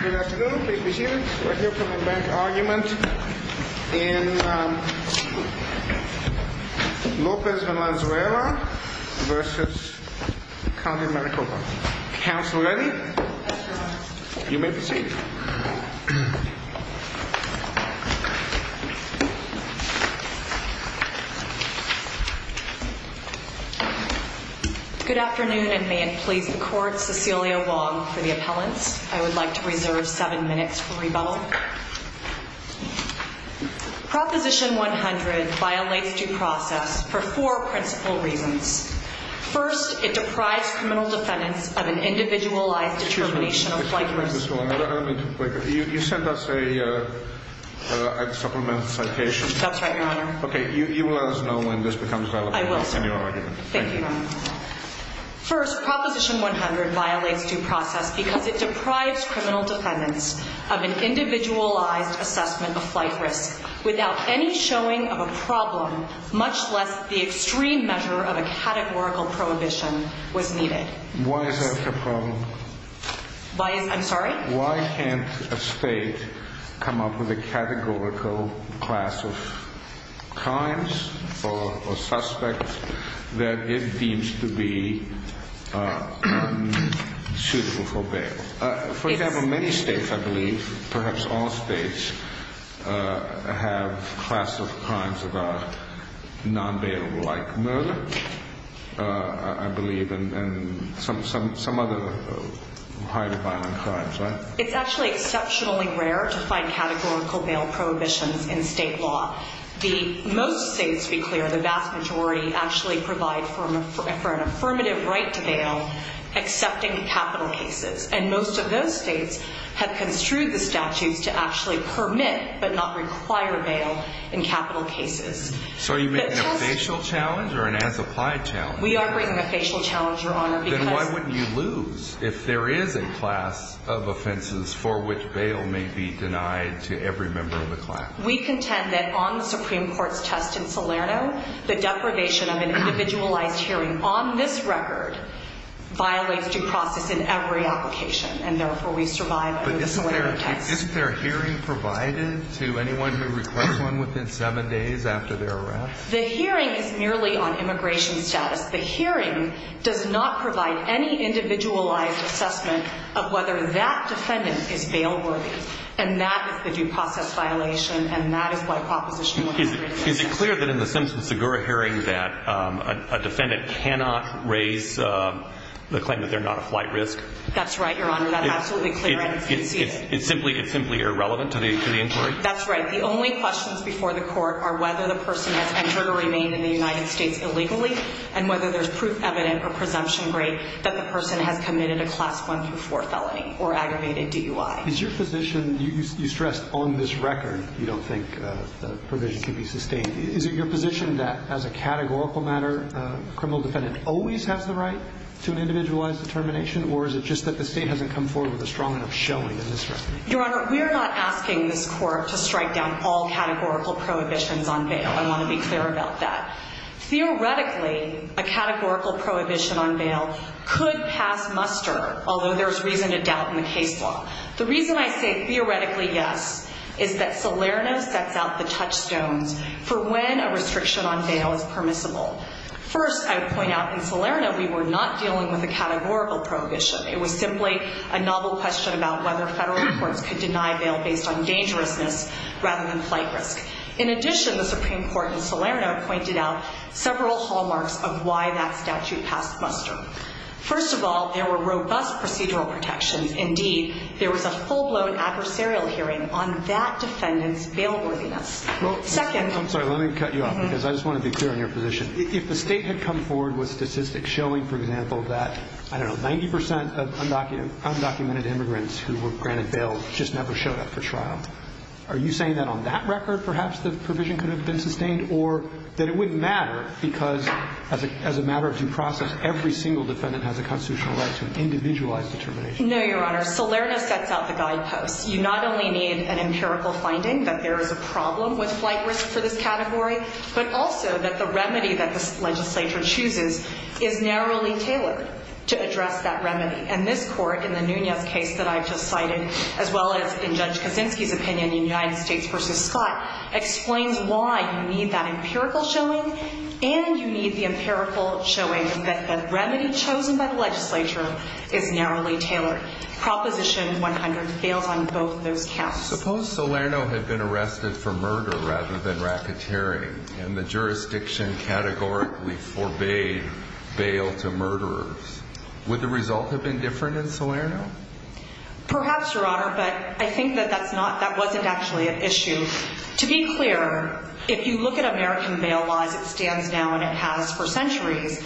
Good afternoon, please be seated. We're here for the bank argument in Lopez-Valenzuela v. County of Maricopa. Counsel ready? You may proceed. Good afternoon and may it please the Court, Cecilia Wong for the appellants. I would like to reserve seven minutes for rebuttal. Proposition 100 violates due process for four principal reasons. First, it deprives criminal defendants of an individualized determination of flight risk. You sent us a supplemental citation. That's right, Your Honor. Okay, you will let us know when this becomes valid. I will, sir. Thank you, Your Honor. First, Proposition 100 violates due process because it deprives criminal defendants of an individualized assessment of flight risk without any showing of a problem, much less the extreme measure of a categorical prohibition was needed. Why is that a problem? I'm sorry? Why can't a state come up with a categorical class of crimes or suspects that it deems to be suitable for bail? For example, many states, I believe, perhaps all states, have class of crimes about non-bail-like murder, I believe, and some other highly violent crimes, right? It's actually exceptionally rare to find categorical bail prohibitions in state law. Most states, to be clear, the vast majority, actually provide for an affirmative right to bail, except in capital cases. And most of those states have construed the statutes to actually permit but not require bail in capital cases. So are you making a facial challenge or an as-applied challenge? We are bringing a facial challenge, Your Honor, because— Then why wouldn't you lose if there is a class of offenses for which bail may be denied to every member of the class? We contend that on the Supreme Court's test in Salerno, the deprivation of an individualized hearing on this record violates due process in every application. And therefore, we survive the Salerno test. But isn't there a hearing provided to anyone who requests one within seven days after their arrest? The hearing is merely on immigration status. The hearing does not provide any individualized assessment of whether that defendant is bailworthy. And that is the due process violation. And that is why Proposition 133 does not. Is it clear that in the Simpson-Segura hearing that a defendant cannot raise the claim that they're not a flight risk? That's right, Your Honor. That's absolutely clear. I can see it. It's simply irrelevant to the inquiry? That's right. The only questions before the court are whether the person has entered or remained in the United States illegally and whether there's proof evident or presumption great that the person has committed a Class I-IV felony or aggravated DUI. Is your position—you stressed, on this record, you don't think the provision can be sustained. Is it your position that, as a categorical matter, a criminal defendant always has the right to an individualized determination? Or is it just that the state hasn't come forward with a strong enough showing in this record? Your Honor, we're not asking this court to strike down all categorical prohibitions on bail. I want to be clear about that. Theoretically, a categorical prohibition on bail could pass muster, although there's reason to doubt in the case law. The reason I say, theoretically, yes, is that Salerno sets out the touchstones for when a restriction on bail is permissible. First, I would point out, in Salerno, we were not dealing with a categorical prohibition. It was simply a novel question about whether federal courts could deny bail based on dangerousness rather than flight risk. In addition, the Supreme Court in Salerno pointed out several hallmarks of why that statute passed muster. First of all, there were robust procedural protections. Indeed, there was a full-blown adversarial hearing on that defendant's bailworthiness. Second— I'm sorry, let me cut you off because I just want to be clear on your position. If the State had come forward with statistics showing, for example, that, I don't know, 90 percent of undocumented immigrants who were granted bail just never showed up for trial, are you saying that on that record perhaps the provision could have been sustained or that it wouldn't matter because as a matter of due process, every single defendant has a constitutional right to an individualized determination? No, Your Honor. Salerno sets out the guideposts. You not only need an empirical finding that there is a problem with flight risk for this category, but also that the remedy that this legislature chooses is narrowly tailored to address that remedy. And this Court, in the Nunez case that I just cited, as well as in Judge Kaczynski's opinion in United States v. Scott, explains why you need that empirical showing and you need the empirical showing that the remedy chosen by the legislature is narrowly tailored. Proposition 100 fails on both those counts. Suppose Salerno had been arrested for murder rather than racketeering and the jurisdiction categorically forbade bail to murderers. Would the result have been different in Salerno? Perhaps, Your Honor, but I think that that's not, that wasn't actually an issue. To be clear, if you look at American bail laws, it stands now and it has for centuries,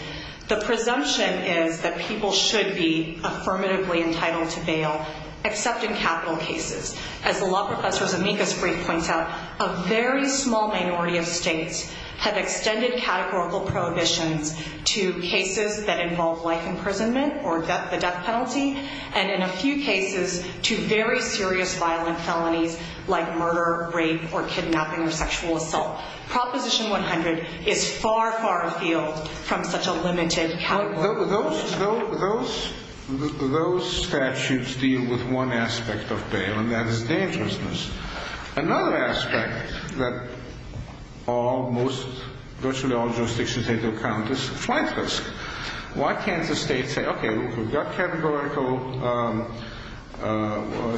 the presumption is that people should be affirmatively entitled to bail, except in capital cases. As the law professor's amicus brief points out, a very small minority of states have extended categorical prohibitions to cases that involve life imprisonment or the death penalty, and in a few cases, to very serious violent felonies like murder, rape, or kidnapping or sexual assault. Proposition 100 is far, far afield from such a limited category. Those statutes deal with one aspect of bail, and that is dangerousness. Another aspect that virtually all jurisdictions take into account is flight risk. Why can't the state say, okay, we've got categorical,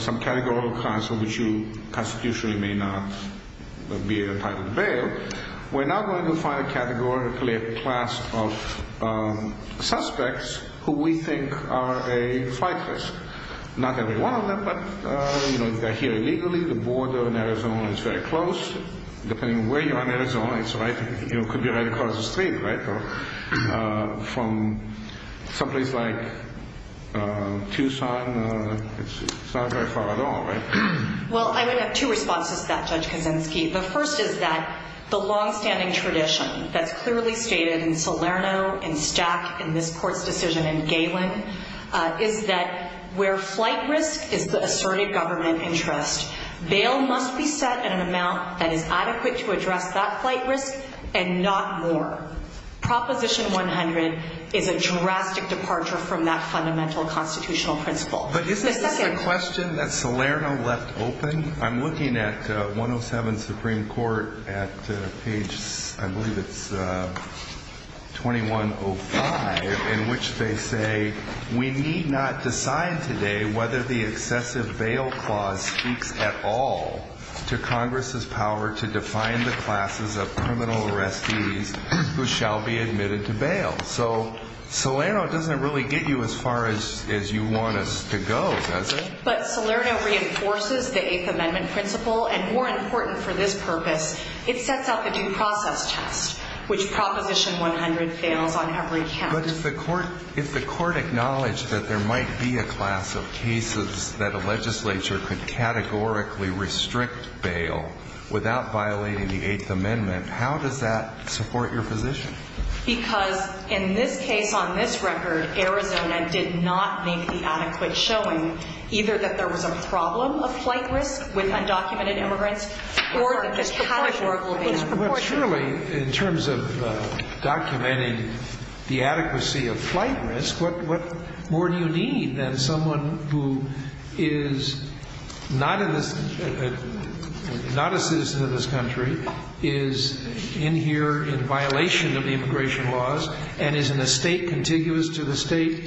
some categorical class in which you constitutionally may not be entitled to bail. We're now going to find categorically a class of suspects who we think are a flight risk. Not every one of them, but, you know, if they're here illegally, the border in Arizona is very close. Depending on where you are in Arizona, it could be right across the street, right? From someplace like Tucson, it's not very far at all, right? Well, I would have two responses to that, Judge Kaczynski. The first is that the longstanding tradition that's clearly stated in Salerno, in Stack, in this court's decision in Galen, is that where flight risk is the asserted government interest. Bail must be set at an amount that is adequate to address that flight risk and not more. Proposition 100 is a drastic departure from that fundamental constitutional principle. But is this a question that Salerno left open? I'm looking at 107 Supreme Court at page, I believe it's 2105, in which they say, we need not decide today whether the excessive bail clause speaks at all to Congress's power to define the classes of criminal arrestees who shall be admitted to bail. So Salerno doesn't really get you as far as you want us to go, does it? But Salerno reinforces the Eighth Amendment principle, and more important for this purpose, it sets out the due process test, which Proposition 100 fails on every count. But if the court acknowledged that there might be a class of cases that a legislature could categorically restrict bail without violating the Eighth Amendment, how does that support your position? Because in this case, on this record, Arizona did not make the adequate showing, either that there was a problem of flight risk with undocumented immigrants or that this categorical bail. But surely, in terms of documenting the adequacy of flight risk, what more do you need than someone who is not in this ñ not a citizen of this country, is in here in violation of the immigration laws and is in a state contiguous to the state,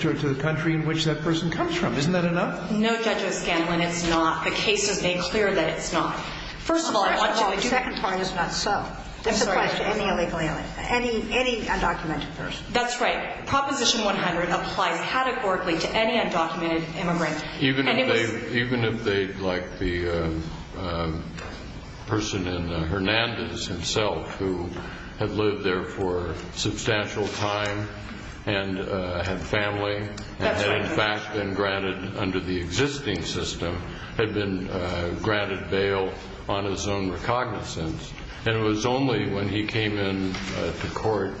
to the country in which that person comes from? Isn't that enough? No, Judge O'Scanlan, it's not. The case has made clear that it's not. First of all, the second part is not so. This applies to any illegal ñ any undocumented person. That's right. Proposition 100 applies categorically to any undocumented immigrant. Even if they, like the person in Hernandez himself, who had lived there for a substantial time and had family, had in fact been granted, under the existing system, had been granted bail on his own recognizance, and it was only when he came into court,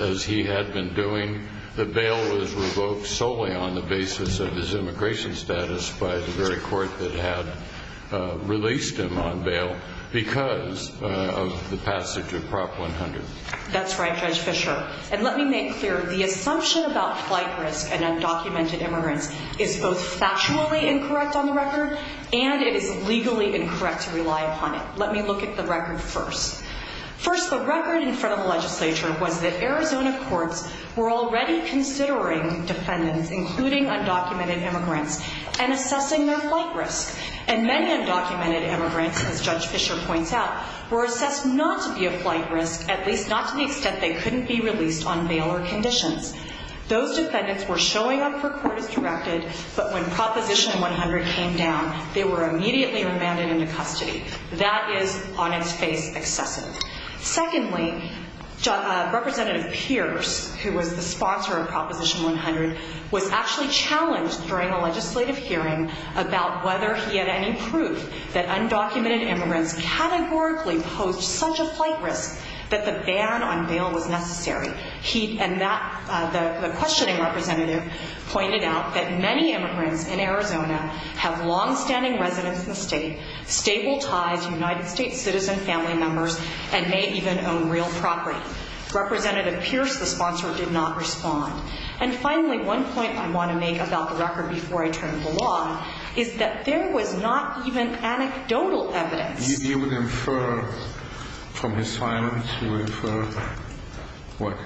as he had been doing, that bail was revoked solely on the basis of his immigration status by the very court that had released him on bail because of the passage of Prop. 100. That's right, Judge Fischer. And let me make clear, the assumption about flight risk and undocumented immigrants is both factually incorrect on the record, and it is legally incorrect to rely upon it. Let me look at the record first. First, the record in front of the legislature was that Arizona courts were already considering defendants, including undocumented immigrants, and assessing their flight risk. And many undocumented immigrants, as Judge Fischer points out, were assessed not to be a flight risk, at least not to the extent they couldn't be released on bail or conditions. Those defendants were showing up for court as directed, but when Proposition 100 came down, they were immediately remanded into custody. That is, on its face, excessive. Secondly, Representative Pierce, who was the sponsor of Proposition 100, was actually challenged during a legislative hearing about whether he had any proof that undocumented immigrants categorically posed such a flight risk that the ban on bail was necessary. And the questioning representative pointed out that many immigrants in Arizona have longstanding residence in the state, stable ties to United States citizen family members, and may even own real property. Representative Pierce, the sponsor, did not respond. And finally, one point I want to make about the record before I turn it along is that there was not even anecdotal evidence. If you would infer from his silence, you would infer what?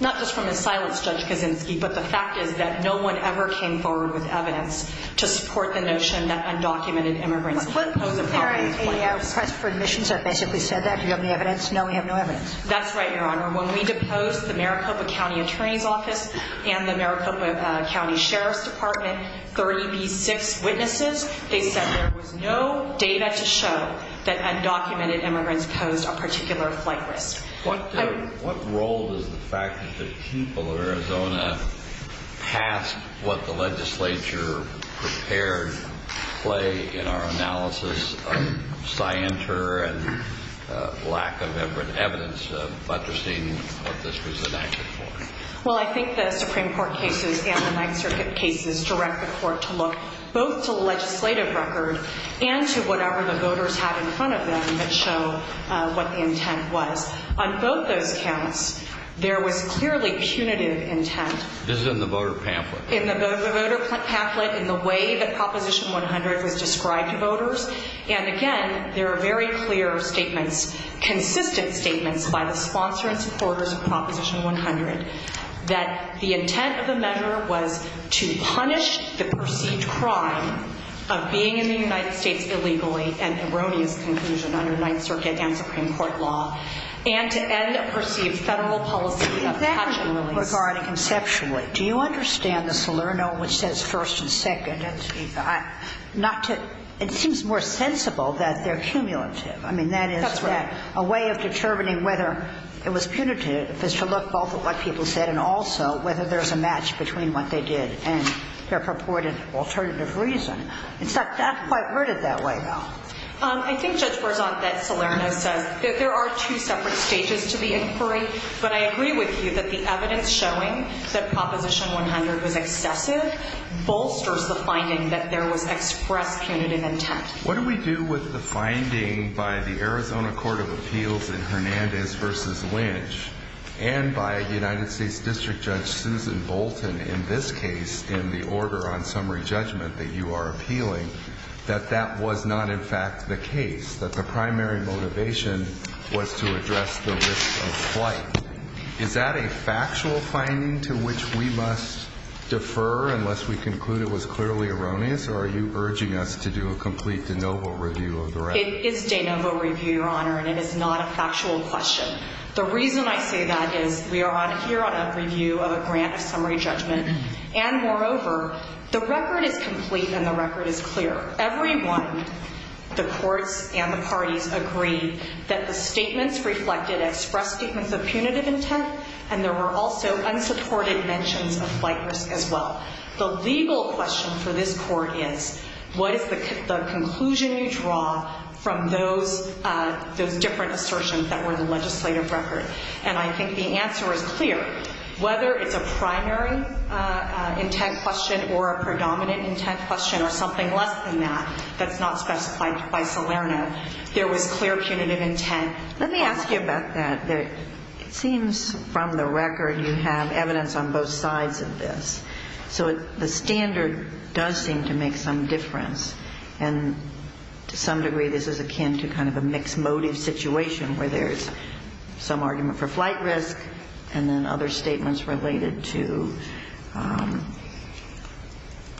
Not just from his silence, Judge Kaczynski, but the fact is that no one ever came forward with evidence to support the notion that undocumented immigrants posed a flight risk. Was there a press for admissions that basically said that? Do you have any evidence? No, we have no evidence. That's right, Your Honor. When we deposed the Maricopa County Attorney's Office and the Maricopa County Sheriff's Department, 30B6 witnesses, they said there was no data to show that undocumented immigrants posed a particular flight risk. What role does the fact that the people of Arizona passed what the legislature prepared play in our analysis of scienter and lack of evidence of buttressing what this was enacted for? Well, I think the Supreme Court cases and the Ninth Circuit cases direct the court to look both to the legislative record and to whatever the voters have in front of them that show what the intent was. On both those counts, there was clearly punitive intent. This is in the voter pamphlet? In the voter pamphlet, in the way that Proposition 100 was described to voters. And, again, there are very clear statements, consistent statements by the sponsor and supporters of Proposition 100 that the intent of the measure was to punish the perceived crime of being in the United States illegally and erroneous conclusion under Ninth Circuit and Supreme Court law and to end a perceived federal policy of catch and release. Exactly. Regarding conceptually, do you understand the Salerno which says first and second? It seems more sensible that they're cumulative. That's right. A way of determining whether it was punitive is to look both at what people said and also whether there's a match between what they did and their purported alternative reason. It's not quite worded that way, though. I think, Judge Berzon, that Salerno says that there are two separate stages to the inquiry, but I agree with you that the evidence showing that Proposition 100 was excessive bolsters the finding that there was express punitive intent. What do we do with the finding by the Arizona Court of Appeals in Hernandez v. Lynch and by United States District Judge Susan Bolton in this case in the order on summary judgment that you are appealing that that was not in fact the case, that the primary motivation was to address the risk of flight? Is that a factual finding to which we must defer unless we conclude it was clearly erroneous, or are you urging us to do a complete de novo review of the record? It is de novo review, Your Honor, and it is not a factual question. The reason I say that is we are here on a review of a grant of summary judgment, and moreover, the record is complete and the record is clear. Everyone, the courts and the parties, agree that the statements reflected express statements of punitive intent, and there were also unsupported mentions of flight risk as well. The legal question for this court is what is the conclusion you draw from those different assertions that were in the legislative record? And I think the answer is clear. Whether it's a primary intent question or a predominant intent question or something less than that that's not specified by Salerno, there was clear punitive intent. Let me ask you about that. It seems from the record you have evidence on both sides of this. So the standard does seem to make some difference, and to some degree this is akin to kind of a mixed motive situation where there's some argument for flight risk and then other statements related to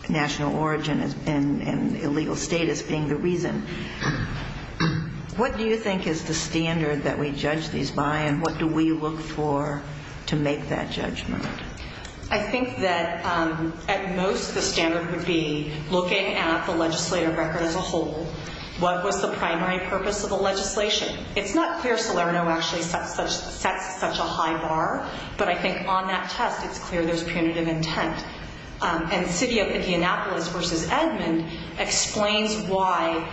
national origin and illegal status being the reason. What do you think is the standard that we judge these by, and what do we look for to make that judgment? I think that at most the standard would be looking at the legislative record as a whole. What was the primary purpose of the legislation? It's not clear Salerno actually sets such a high bar, but I think on that test it's clear there's punitive intent. And the city of Indianapolis versus Edmond explains why,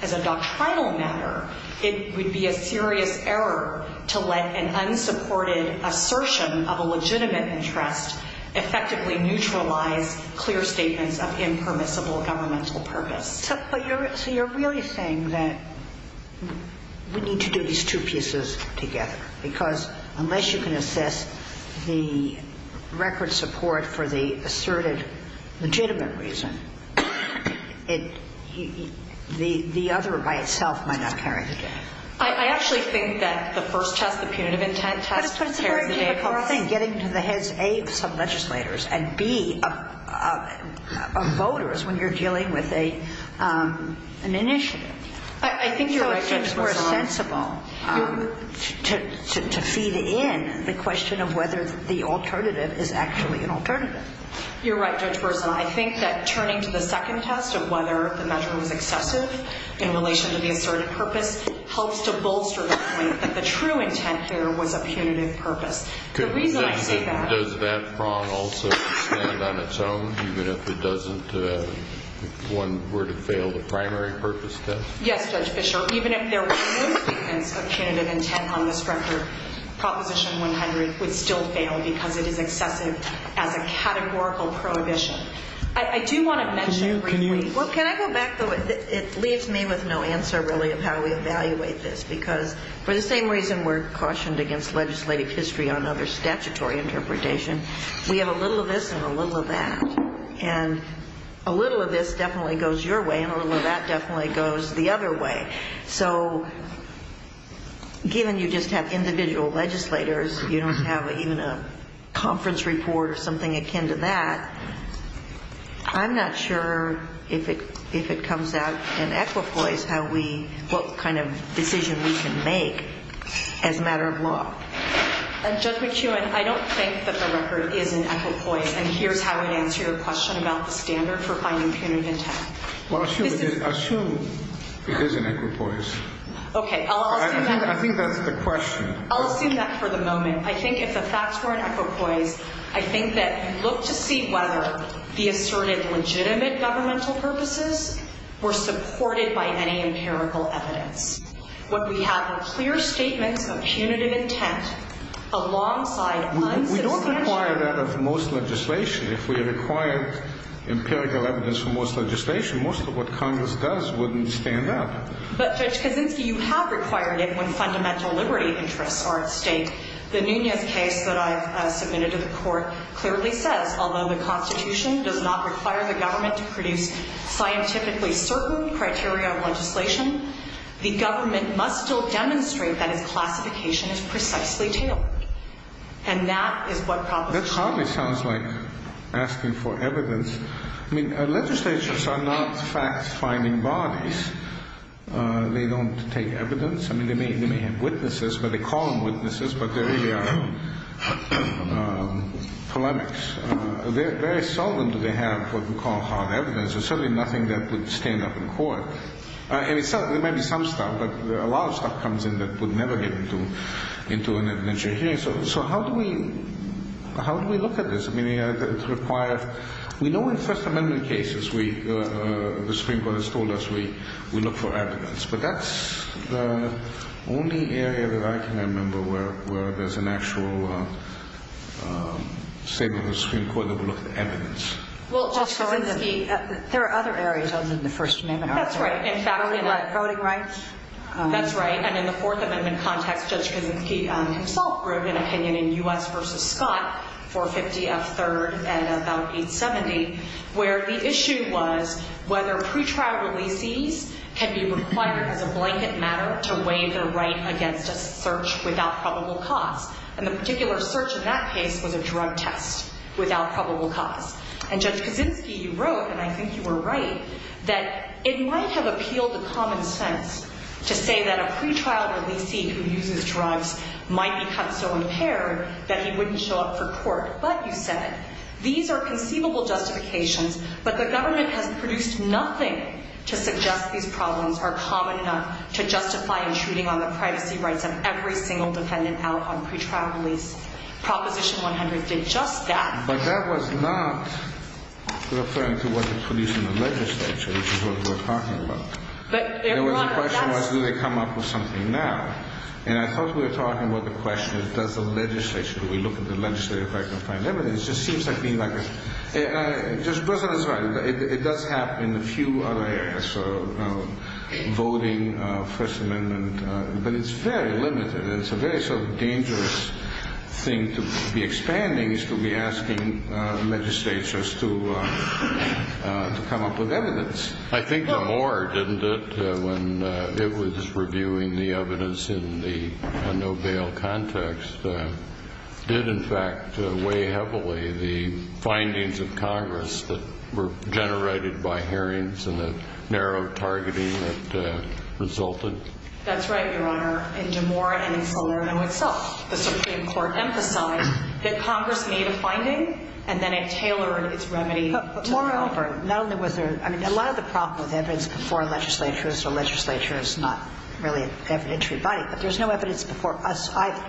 as a doctrinal matter, it would be a serious error to let an unsupported assertion of a legitimate interest effectively neutralize clear statements of impermissible governmental purpose. So you're really saying that we need to do these two pieces together, because unless you can assess the record support for the asserted legitimate reason, the other by itself might not carry the day. I actually think that the first test, the punitive intent test, would carry the day across. But it's a very difficult thing, getting to the heads, A, of some legislators, and B, of voters when you're dealing with an initiative. I think you're right, Judge Wilson. So it seems more sensible to feed in the question of whether the alternative is actually an alternative. You're right, Judge Wilson. I think that turning to the second test of whether the measure was excessive in relation to the asserted purpose helps to bolster the point that the true intent here was a punitive purpose. Does that prong also stand on its own, even if one were to fail the primary purpose test? Yes, Judge Fischer. Even if there were no statements of punitive intent on this record, Proposition 100 would still fail because it is excessive as a categorical prohibition. I do want to mention briefly. Can I go back, though? It leaves me with no answer, really, of how we evaluate this, because for the same reason we're cautioned against legislative history on other statutory interpretation, we have a little of this and a little of that. And a little of this definitely goes your way, and a little of that definitely goes the other way. So given you just have individual legislators, you don't have even a conference report or something akin to that, I'm not sure if it comes out in equipoise what kind of decision we can make as a matter of law. And, Judge McEwen, I don't think that the record is in equipoise, and here's how I'd answer your question about the standard for finding punitive intent. Well, assume it is in equipoise. Okay. I'll assume that. I think that's the question. I'll assume that for the moment. I think if the facts were in equipoise, I think that you look to see whether the asserted legitimate governmental purposes were supported by any empirical evidence. What we have are clear statements of punitive intent alongside unsubstantial. We don't require that of most legislation. If we required empirical evidence for most legislation, most of what Congress does wouldn't stand up. But, Judge Kaczynski, you have required it when fundamental liberty interests are at stake. The Nunez case that I've submitted to the Court clearly says, although the Constitution does not require the government to produce scientifically certain criteria of legislation, the government must still demonstrate that its classification is precisely tailored. And that is what proposition. That hardly sounds like asking for evidence. I mean, legislatures are not fact-finding bodies. They don't take evidence. I mean, they may have witnesses, but they call them witnesses, but they really are polemics. Very seldom do they have what we call hard evidence. There's certainly nothing that would stand up in court. I mean, there may be some stuff, but a lot of stuff comes in that would never get into an adventure hearing. So how do we look at this? I mean, we know in First Amendment cases the Supreme Court has told us we look for evidence. But that's the only area that I can remember where there's an actual statement of the Supreme Court that would look for evidence. Well, Judge Kaczynski, there are other areas other than the First Amendment. That's right. Voting rights. That's right. And in the Fourth Amendment context, Judge Kaczynski himself wrote an opinion in U.S. v. Scott, 450 F. 3rd and about 870, where the issue was whether pretrial releasees can be required as a blanket matter to weigh their right against a search without probable cause. And the particular search in that case was a drug test without probable cause. And Judge Kaczynski wrote, and I think you were right, that it might have appealed to common sense to say that a pretrial releasee who uses drugs might become so impaired that he wouldn't show up for court. But, you said, these are conceivable justifications, but the government has produced nothing to suggest these problems are common enough to justify intruding on the privacy rights of every single defendant out on pretrial release. Proposition 100 did just that. But that was not referring to what was produced in the legislature, which is what we're talking about. But there was a question was, do they come up with something now? And I thought we were talking about the question, does the legislature, do we look at the legislature if I can find evidence? It just seems like being like a – it does happen in a few other areas, voting, First Amendment, but it's very limited. And it's a very sort of dangerous thing to be expanding is to be asking legislatures to come up with evidence. I think DeMoore, didn't it, when it was reviewing the evidence in the no bail context, did in fact weigh heavily the findings of Congress that were generated by hearings and the narrow targeting that resulted. That's right, Your Honor. In DeMoore and in Salerno itself, the Supreme Court emphasized that Congress made a finding and then it tailored its remedy. But, Maura Alford, not only was there – I mean, a lot of the problem with evidence before legislatures, the legislature is not really an evidentiary body, but there's no evidence before us either.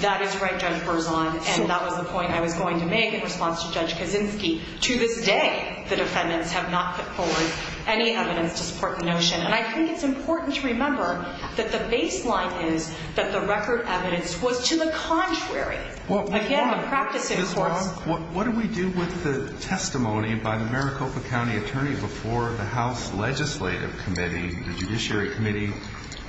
That is right, Judge Berzon. And that was the point I was going to make in response to Judge Kaczynski. To this day, the defendants have not put forward any evidence to support the notion. And I think it's important to remember that the baseline is that the record evidence was to the contrary. Again, the practice in courts – Ms. Long, what do we do with the testimony by the Maricopa County attorney before the House Legislative Committee, the Judiciary Committee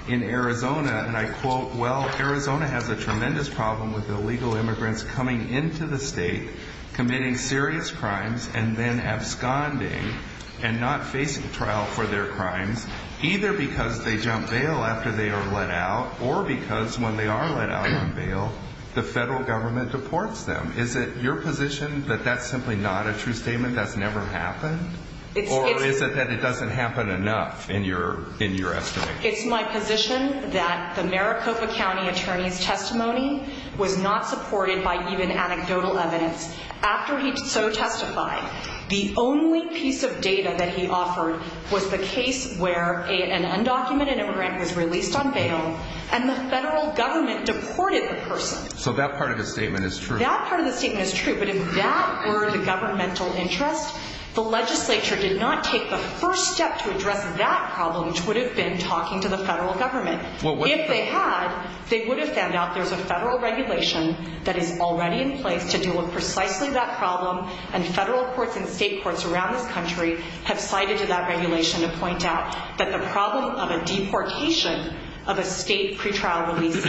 in Arizona? And I quote, well, Arizona has a tremendous problem with illegal immigrants coming into the state, committing serious crimes, and then absconding and not facing trial for their crimes, either because they jump bail after they are let out or because when they are let out on bail, the federal government deports them. Is it your position that that's simply not a true statement? That's never happened? Or is it that it doesn't happen enough in your estimation? It's my position that the Maricopa County attorney's testimony was not supported by even anecdotal evidence. After he so testified, the only piece of data that he offered was the case where an undocumented immigrant was released on bail and the federal government deported the person. So that part of his statement is true? That part of the statement is true, but if that were the governmental interest, the legislature did not take the first step to address that problem, which would have been talking to the federal government. If they had, they would have found out there's a federal regulation that is already in place to deal with precisely that problem. And federal courts and state courts around this country have cited to that regulation to point out that the problem of a deportation of a state pretrial release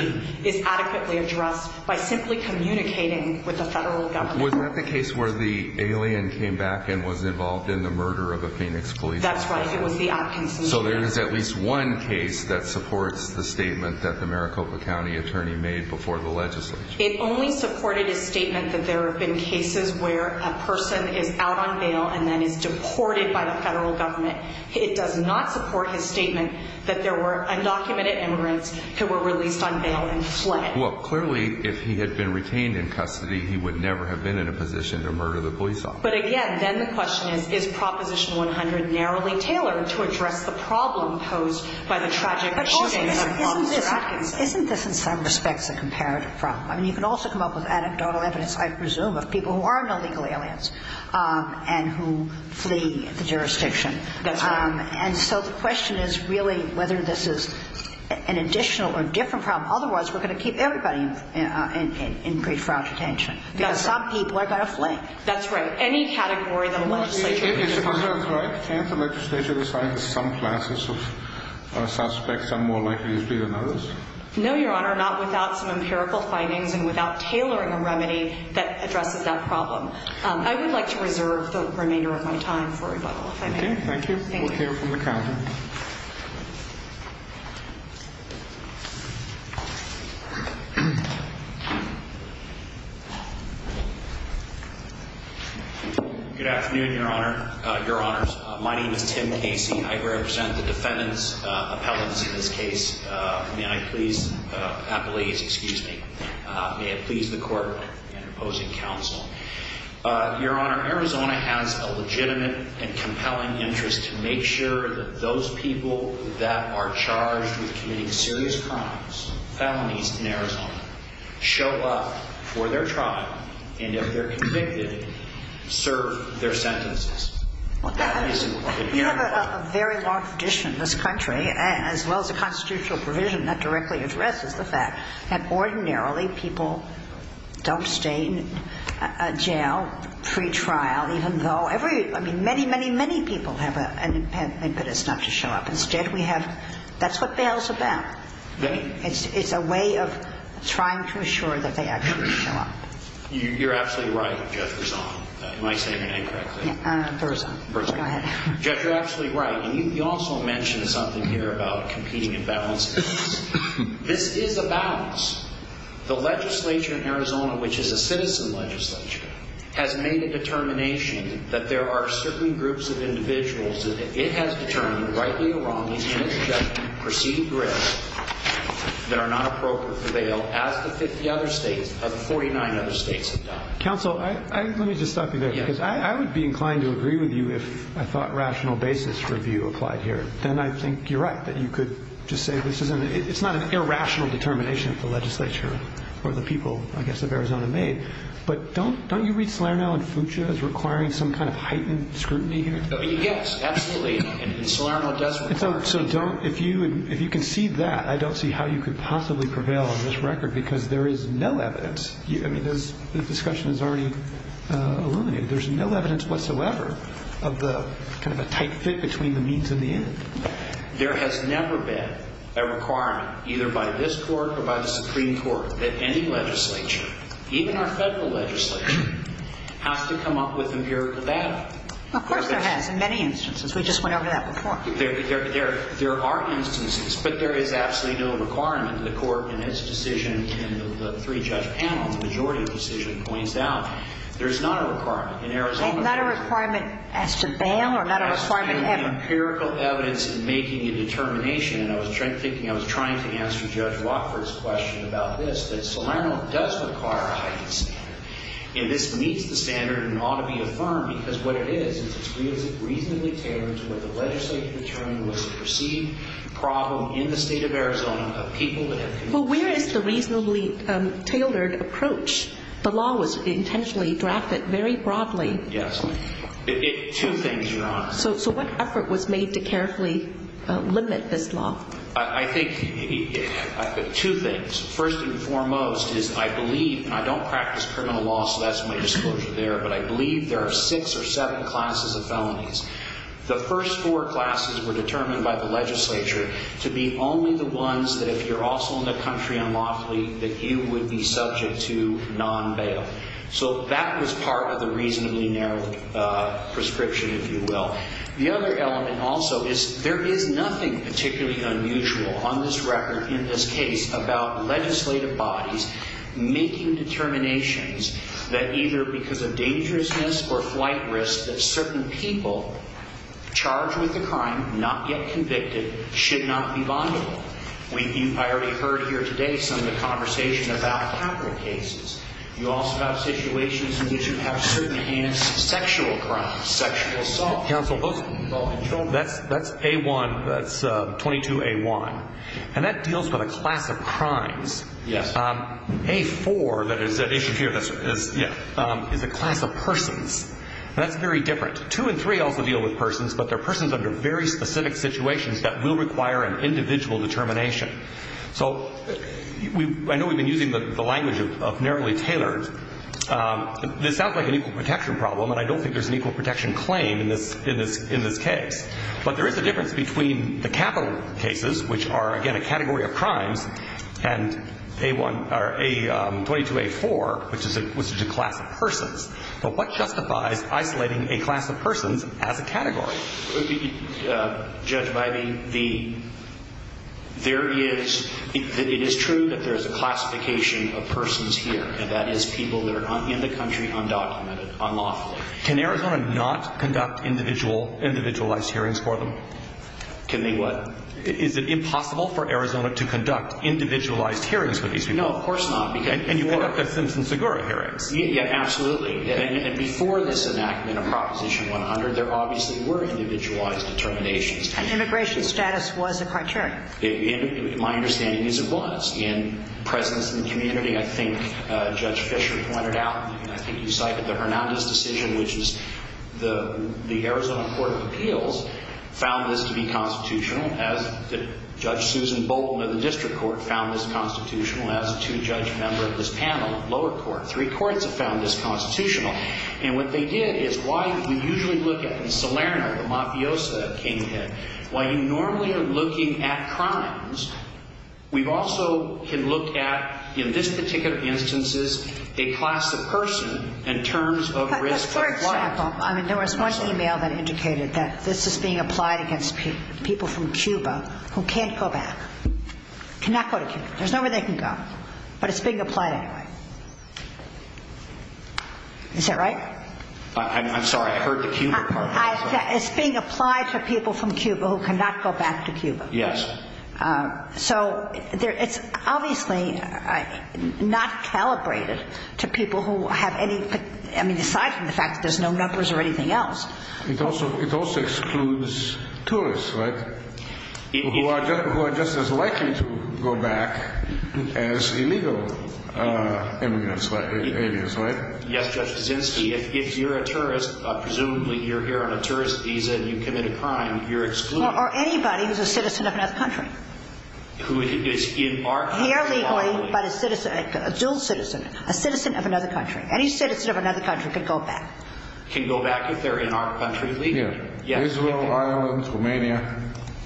is adequately addressed by simply communicating with the federal government. Was that the case where the alien came back and was involved in the murder of a Phoenix police officer? That's right. It was the absentee. So there is at least one case that supports the statement that the Maricopa County attorney made before the legislature? It only supported his statement that there have been cases where a person is out on bail and then is deported by the federal government. It does not support his statement that there were undocumented immigrants who were released on bail and fled. Well, clearly, if he had been retained in custody, he would never have been in a position to murder the police officer. But again, then the question is, is Proposition 100 narrowly tailored to address the problem posed by the tragic shooting of Mr. Atkinson? Isn't this, in some respects, a comparative problem? I mean, you can also come up with anecdotal evidence, I presume, of people who are not legal aliens and who flee the jurisdiction. That's right. And so the question is really whether this is an additional or different problem. Otherwise, we're going to keep everybody in great fraudulent detention because some people are going to flee. Any category that the legislature would define. Can the legislature decide that some classes of suspects are more likely to flee than others? No, Your Honor, not without some empirical findings and without tailoring a remedy that addresses that problem. I would like to reserve the remainder of my time for rebuttal, if I may. Okay, thank you. We'll hear from the counsel. Thank you, Your Honor. Good afternoon, Your Honor, Your Honors. My name is Tim Casey. I represent the defendant's appellants in this case. May I please—appellates, excuse me—may I please the court in opposing counsel. Your Honor, Arizona has a legitimate and compelling interest to make sure that those people that are charged with committing serious crimes, felonies in Arizona, show up for their trial. And if they're convicted, serve their sentences. You have a very long tradition in this country, as well as the constitutional provision that directly addresses the fact that ordinarily people don't stay in jail pre-trial, even though every—I mean, many, many, many people have an impetus not to show up. Instead, we have—that's what bail is about. It's a way of trying to assure that they actually show up. You're absolutely right, Judge Rizzo. Am I saying your name correctly? Yeah, Burza. Burza. Go ahead. Judge, you're absolutely right. And you also mentioned something here about competing and balancing things. This is a balance. The legislature in Arizona, which is a citizen legislature, has made a determination that there are certain groups of individuals that it has determined, rightly or wrongly, Judge, that preceding grips that are not appropriate for bail, as the 50 other states—49 other states have done. Counsel, let me just stop you there, because I would be inclined to agree with you if I thought rational basis review applied here. Then I think you're right, that you could just say this isn't—it's not an irrational determination that the legislature or the people, I guess, of Arizona made. But don't you read Salerno and Fuchsia as requiring some kind of heightened scrutiny here? Yes, absolutely. And Salerno does require scrutiny. So don't—if you can see that, I don't see how you could possibly prevail on this record, because there is no evidence. I mean, the discussion is already illuminated. There's no evidence whatsoever of the kind of a tight fit between the means and the end. There has never been a requirement, either by this Court or by the Supreme Court, that any legislature, even our Federal legislature, has to come up with empirical data. Of course there has, in many instances. We just went over that before. There are instances, but there is absolutely no requirement. The Court in its decision in the three-judge panel, the majority decision, points out there is not a requirement. In Arizona, there is not a requirement. And not a requirement as to bail or not a requirement ever? As to the empirical evidence in making a determination. And I was thinking—I was trying to answer Judge Watford's question about this, that Salerno does require a heightened standard. And this meets the standard and ought to be affirmed, because what it is, is it's reasonably tailored to where the legislature determined that there was a perceived problem in the State of Arizona of people that had— Well, where is the reasonably tailored approach? The law was intentionally drafted very broadly. Yes. Two things, Your Honor. So what effort was made to carefully limit this law? I think two things. First and foremost is I believe—and I don't practice criminal law, so that's my disclosure there—but I believe there are six or seven classes of felonies. The first four classes were determined by the legislature to be only the ones that if you're also in the country unlawfully, that you would be subject to non-bail. So that was part of the reasonably narrowed prescription, if you will. The other element also is there is nothing particularly unusual on this record, in this case, about legislative bodies making determinations that either because of dangerousness or flight risk that certain people charged with a crime, not yet convicted, should not be bondable. I already heard here today some of the conversation about capital cases. You also have situations in which you have certain hands, sexual crimes, sexual assaults. Counsel, that's A1, that's 22A1. And that deals with a class of crimes. Yes. A4, that is the issue here, is a class of persons. That's very different. Two and three also deal with persons, but they're persons under very specific situations that will require an individual determination. So I know we've been using the language of narrowly tailored. This sounds like an equal protection problem, and I don't think there's an equal protection claim in this case. But there is a difference between the capital cases, which are, again, a category of crimes, and A1 or 22A4, which is a class of persons. But what justifies isolating a class of persons as a category? Judge Bybee, there is ‑‑ it is true that there is a classification of persons here, and that is people that are in the country undocumented, unlawfully. Can Arizona not conduct individualized hearings for them? Can they what? Is it impossible for Arizona to conduct individualized hearings for these people? No, of course not. And you conduct the Simpson-Segura hearings. Yeah, absolutely. And before this enactment of Proposition 100, there obviously were individualized determinations. And immigration status was a criterion. My understanding is it was. In presence and community, I think Judge Fisher pointed out, and I think you cited the Hernandez decision, which is the Arizona Court of Appeals found this to be constitutional, as did Judge Susan Bolton of the District Court found this constitutional, as did two judge members of this panel of lower court. Three courts have found this constitutional. And what they did is why we usually look at, in Salerno, the mafiosa that came ahead, while you normally are looking at crimes, we also can look at, in this particular instance, a class of person in terms of risk of life. For example, there was one email that indicated that this is being applied against people from Cuba who can't go back, cannot go to Cuba. There's nowhere they can go. But it's being applied anyway. Is that right? I'm sorry. I heard the Cuba part. It's being applied to people from Cuba who cannot go back to Cuba. Yes. So it's obviously not calibrated to people who have any, I mean, aside from the fact that there's no numbers or anything else. It also excludes tourists, right, who are just as likely to go back as illegal immigrants, aliens, right? Yes, Judge Kaczynski. If you're a tourist, presumably you're here on a tourist visa and you commit a crime, you're excluded. Or anybody who's a citizen of another country. Who is in our country. Here legally, but a citizen, a dual citizen, a citizen of another country. Any citizen of another country can go back. Can go back if they're in our country legally. Israel, Ireland, Romania.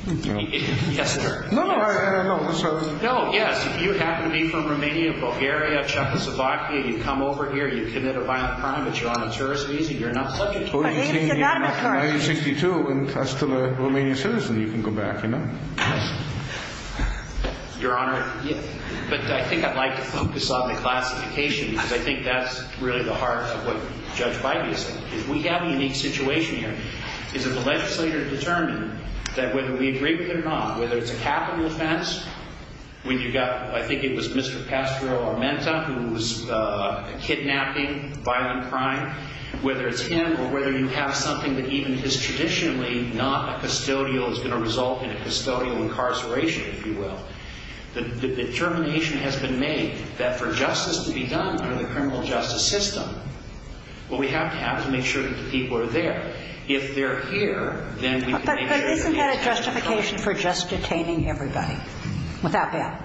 Yes, sir. No, no, no. No, yes. If you happen to be from Romania, Bulgaria, Czechoslovakia, you come over here, you commit a violent crime, but you're on a tourist visa, you're not subject. Or you came here in 1962 and are still a Romanian citizen. You can go back, you know. Your Honor, but I think I'd like to focus on the classification because I think that's really the heart of what Judge Biden is saying. Is we have a unique situation here. Is that the legislator determined that whether we agree with it or not, whether it's a capital offense. When you got, I think it was Mr. Pastrero Armenta who was kidnapping, violent crime. Whether it's him or whether you have something that even is traditionally not a custodial, is going to result in a custodial incarceration, if you will. The determination has been made that for justice to be done through the criminal justice system. Well, we have to have to make sure that the people are there. If they're here, then we can make sure they're there. But isn't that a justification for just detaining everybody without bail?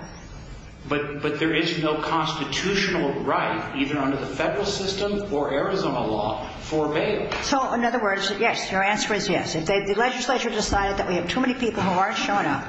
But there is no constitutional right, either under the federal system or Arizona law, for bail. So, in other words, yes, your answer is yes. If the legislature decided that we have too many people who aren't showing up,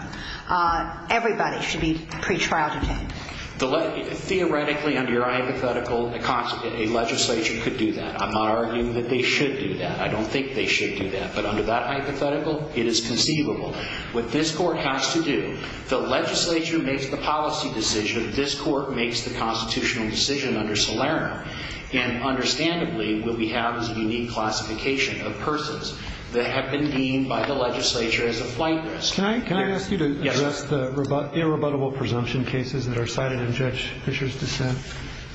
everybody should be pretrial detained. Theoretically, under your hypothetical, a legislature could do that. I'm not arguing that they should do that. I don't think they should do that. But under that hypothetical, it is conceivable. What this court has to do, the legislature makes the policy decision. This court makes the constitutional decision under Salerno. And understandably, what we have is a unique classification of persons that have been deemed by the legislature as a flight risk. Can I ask you to address the irrebuttable presumption cases that are cited in Judge Fischer's dissent?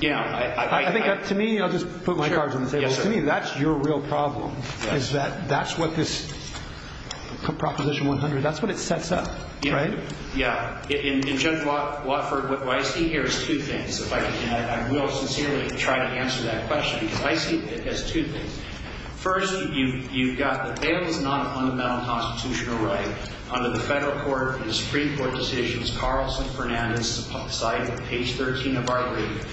Yeah. To me, I'll just put my cards on the table. To me, that's your real problem, is that that's what this Proposition 100, that's what it sets up, right? Yeah. In Judge Watford, what I see here is two things, if I can add. I will sincerely try to answer that question because I see it as two things. First, you've got that bail is not a fundamental constitutional right under the federal court and the Supreme Court decisions. Carlson Fernandez cited page 13 of our agreement.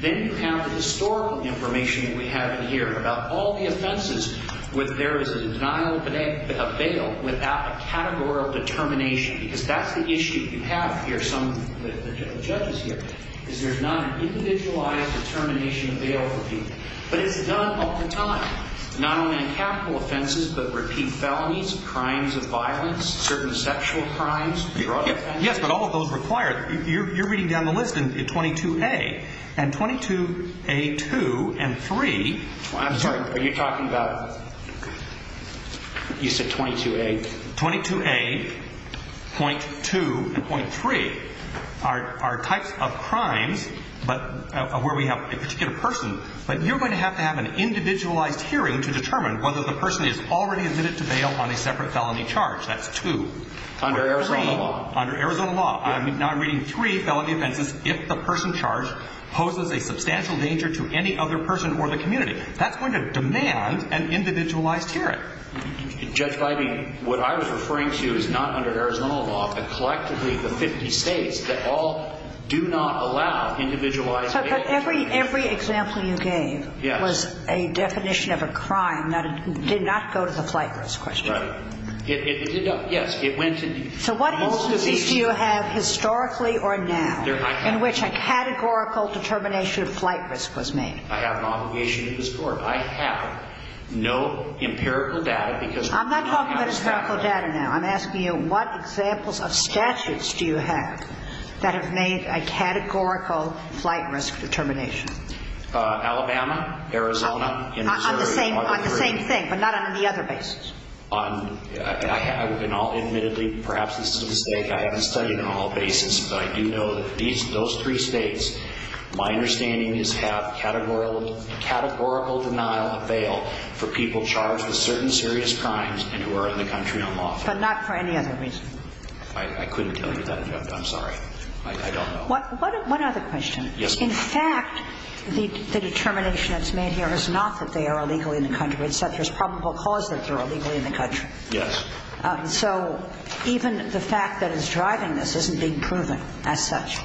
Then you have the historical information that we have in here about all the offenses where there is a denial of bail without a categorical determination. Because that's the issue you have here, some of the judges here, is there's not an individualized determination of bail for people. But it's done all the time, not only in capital offenses, but repeat felonies, crimes of violence, certain sexual crimes, drug offenses. Yes, but all of those require – you're reading down the list in 22A. And 22A.2 and 3 – I'm sorry, are you talking about – you said 22A. 22A.2 and .3 are types of crimes where we have a particular person. But you're going to have to have an individualized hearing to determine whether the person is already admitted to bail on a separate felony charge. That's two. Under Arizona law. Under Arizona law. Now I'm reading three felony offenses if the person charged poses a substantial danger to any other person or the community. That's going to demand an individualized hearing. Judge Leibman, what I was referring to is not under Arizona law, but collectively the 50 states that all do not allow individualized bail. But every example you gave was a definition of a crime that did not go to the flight risk question. Right. Yes, it went to – So what instances do you have historically or now in which a categorical determination of flight risk was made? I have an obligation to the Court. I have no empirical data because we do not have a statute. I'm not talking about empirical data now. I'm asking you what examples of statutes do you have that have made a categorical flight risk determination? Alabama, Arizona, and Missouri. On the same thing, but not on any other basis. But not for any other reason. I couldn't tell you that, Judge. I'm sorry. I don't know. One other question. Yes, ma'am. In fact, the determination that's made here is not that they are illegal in the country. It's that there's probable cause that they're illegal in the country. It's that there's probable cause that they're illegal in the country. Yes. The evidence driving this isn't being proven as such.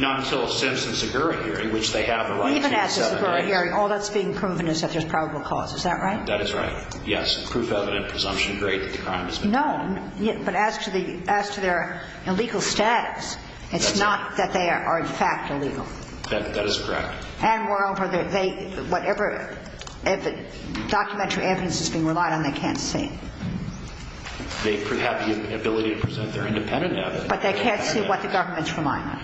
Not until a Simpson-Zaguri hearing, which they have a right to in seven days. Even at the Zaguri hearing, all that's being proven is that there's probable cause. Is that right? That is right. Yes. Proof, evidence, presumption, great that the crime has been committed. No. But as to their illegal status, it's not that they are in fact illegal. That is correct. And moreover, they – whatever documentary evidence is being relied on, they can't see. They have the ability to present their independent evidence. But they can't see what the government's relying on.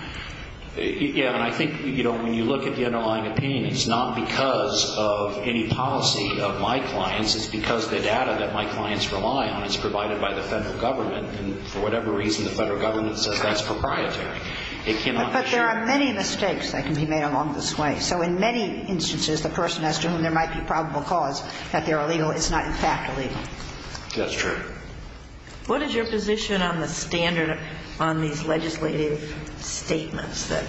Yeah. And I think, you know, when you look at the underlying opinion, it's not because of any policy of my clients. It's because the data that my clients rely on is provided by the Federal Government. And for whatever reason, the Federal Government says that's proprietary. It cannot be shared. But there are many mistakes that can be made along this way. So in many instances, the person as to whom there might be probable cause that they're That's true. What is your position on the standard on these legislative statements that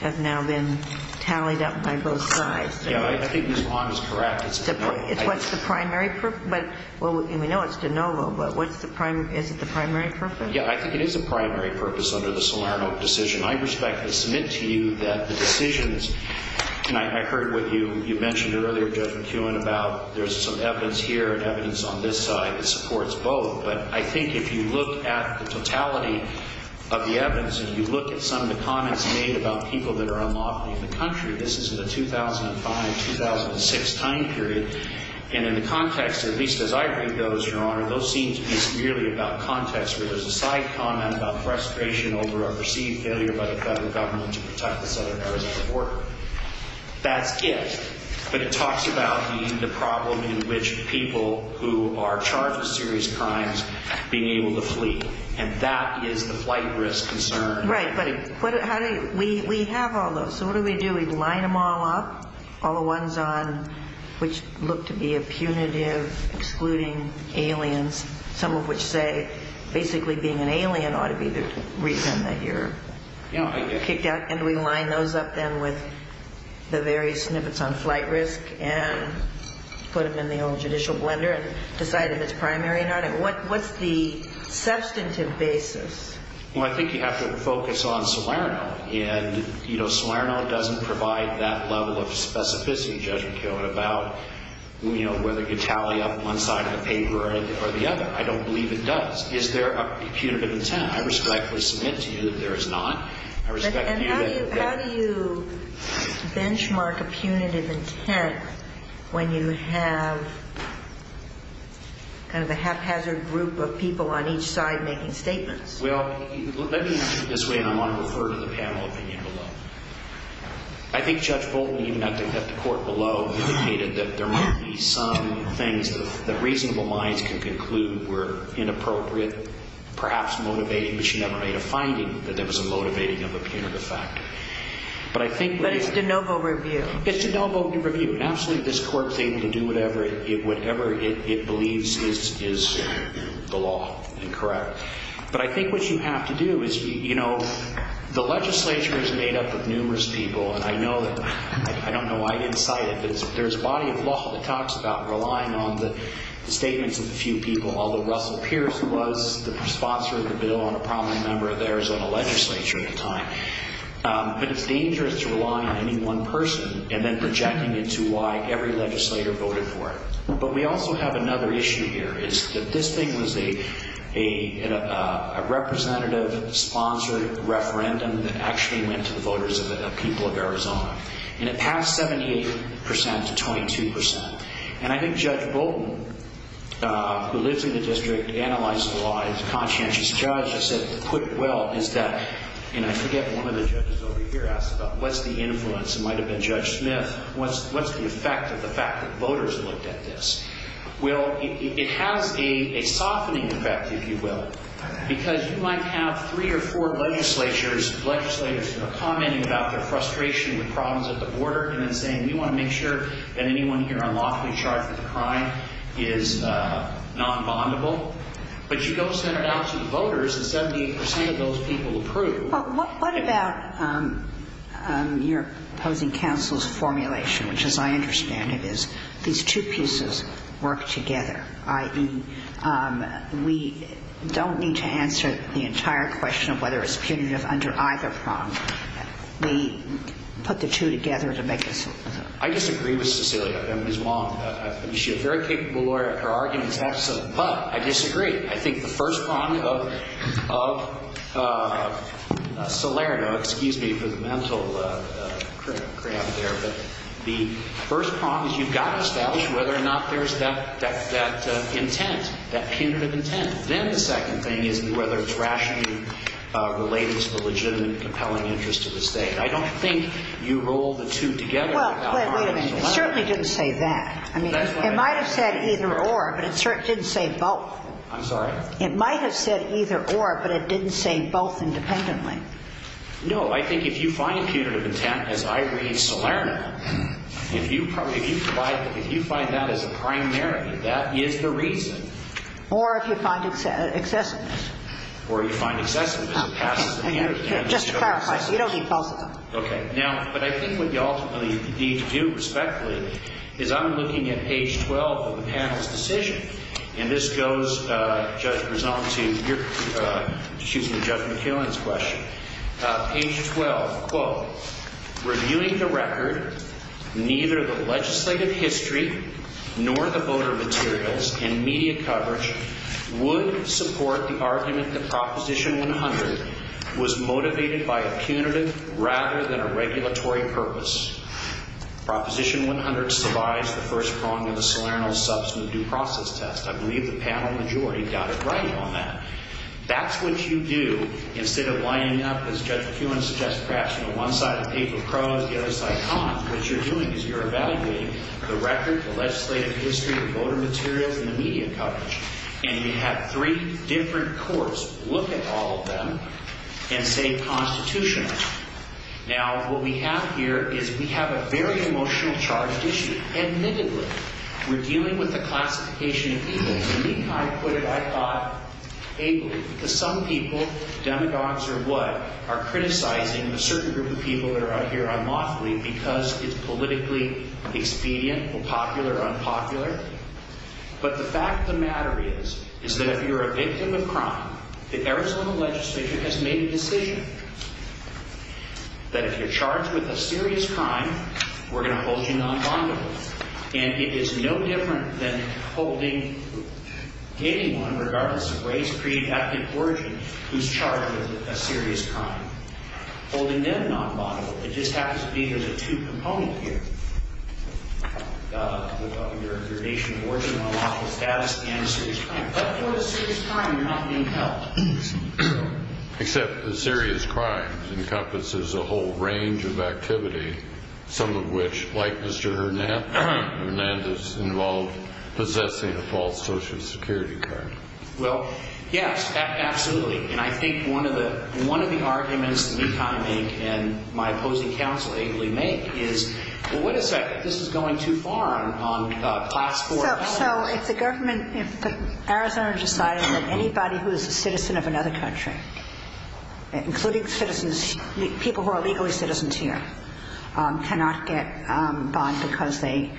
have now been tallied up by both sides? Yeah. I think Ms. Long is correct. It's de novo. It's what's the primary – well, we know it's de novo. But what's the primary – is it the primary purpose? Yeah. I think it is the primary purpose under the Salerno decision. I respectfully submit to you that the decisions – and I heard what you mentioned earlier, Judge McEwen, about there's some evidence here and evidence on this side that supports both. But I think if you look at the totality of the evidence, if you look at some of the comments made about people that are unlawfully in the country, this is in the 2005-2006 time period. And in the context, at least as I read those, Your Honor, those seem to be merely about context where there's a side comment about frustration over a perceived failure by the Federal Government to protect the Southern Arizona border. That's it. But it talks about the problem in which people who are charged with serious crimes being able to flee. And that is the flight risk concern. Right. But how do you – we have all those. So what do we do? We line them all up, all the ones on – which look to be a punitive, excluding aliens, some of which say basically being an alien ought to be the reason that you're kicked out. And do we line those up then with the various snippets on flight risk and put them in the old judicial blender and decide if it's primary or not? What's the substantive basis? Well, I think you have to focus on Salerno. And Salerno doesn't provide that level of specificity, Judge McKeown, about whether you can tally up one side of the paper or the other. I don't believe it does. Is there a punitive intent? I respectfully submit to you that there is not. And how do you benchmark a punitive intent when you have kind of a haphazard group of people on each side making statements? Well, let me put it this way, and I want to refer to the panel opinion below. I think Judge Bolton, even after the court below, indicated that there might be some things that reasonable minds can conclude were inappropriate, perhaps motivating, but she never made a finding that there was a motivating of a punitive factor. But it's de novo review. It's de novo review. Absolutely, this court is able to do whatever it believes is the law and correct. But I think what you have to do is, you know, the legislature is made up of numerous people, and I don't know why I didn't cite it, but there's a body of law that talks about relying on the statements of a few people, although Russell Pierce was the sponsor of a bill on a prominent member of the Arizona legislature at the time. But it's dangerous to rely on any one person and then projecting into why every legislator voted for it. But we also have another issue here, is that this thing was a representative-sponsored referendum that actually went to the voters of the people of Arizona. And it passed 78% to 22%. And I think Judge Bolton, who lives in the district, analyzed the law, and he's a conscientious judge, and said, put it well, is that, and I forget, one of the judges over here asked about what's the influence? It might have been Judge Smith. What's the effect of the fact that voters looked at this? Well, it has a softening effect, if you will, because you might have three or four legislatures, legislators commenting about their frustration with problems at the border, and then saying, we want to make sure that anyone here unlawfully charged with a crime is non-bondable. But you go send it out to the voters, and 78% of those people approve. Well, what about your opposing counsel's formulation, which, as I understand it, is these two pieces work together, i.e., we don't need to answer the entire question of whether it's punitive under either prong. We put the two together to make this. I disagree with Cecilia, and Ms. Wong. She's a very capable lawyer. Her argument is absolute. But I disagree. I think the first prong of Solerno, excuse me for the mental cramp there, but the first prong is you've got to establish whether or not there's that intent, that punitive intent. Then the second thing is whether it's rationally related to the legitimate and compelling interest of the State. I don't think you roll the two together about whether or not it's Solerno. Well, wait a minute. It certainly didn't say that. I mean, it might have said either or, but it certainly didn't say both. I'm sorry? It might have said either or, but it didn't say both independently. No. I think if you find punitive intent, as I read Solerno, if you find that as a primary, that is the reason. Or if you find excessiveness. Or you find excessiveness. Just to clarify, you don't need both of them. Okay. Now, but I think what you ultimately need to do respectfully is I'm looking at page 12 of the panel's decision. And this goes, Judge Brisson, to your – excuse me, Judge McKeown's question. Page 12, quote, reviewing the record, neither the legislative history nor the voter materials in media coverage would support the argument that Proposition 100 was motivated by a punitive rather than a regulatory purpose. Proposition 100 survives the first prong of the Solerno substance due process test. I believe the panel majority got it right on that. That's what you do instead of lining up, as Judge McKeown suggested, perhaps, you know, one side of the paper pros, the other side cons. What you're doing is you're evaluating the record, the legislative history, the voter materials, and the media coverage. And you have three different courts look at all of them and say constitutionally. Now, what we have here is we have a very emotional charged issue. Admittedly, we're dealing with a classification of people. And McKeown put it, I thought, ably. Because some people, demagogues or what, are criticizing a certain group of people that are out here unlawfully because it's politically expedient or popular or unpopular. But the fact of the matter is, is that if you're a victim of crime, the Arizona legislature has made a decision that if you're charged with a serious crime, we're going to hold you non-bondable. And it is no different than holding anyone, regardless of race, creed, ethnic origin, who's charged with a serious crime. Holding them non-bondable, it just happens to be there's a two-component here. Your nation of origin, unlawful status, and a serious crime. But for a serious crime, you're not being held. Except a serious crime encompasses a whole range of activity, some of which, like Mr. Hernandez, involve possessing a false Social Security card. Well, yes, absolutely. And I think one of the arguments that we kind of make, and my opposing counsel ably make, is, well, wait a second, this is going too far on class 4. So if the government, if Arizona decided that anybody who is a citizen of another country, including citizens, people who are legally citizens here, cannot get bond because they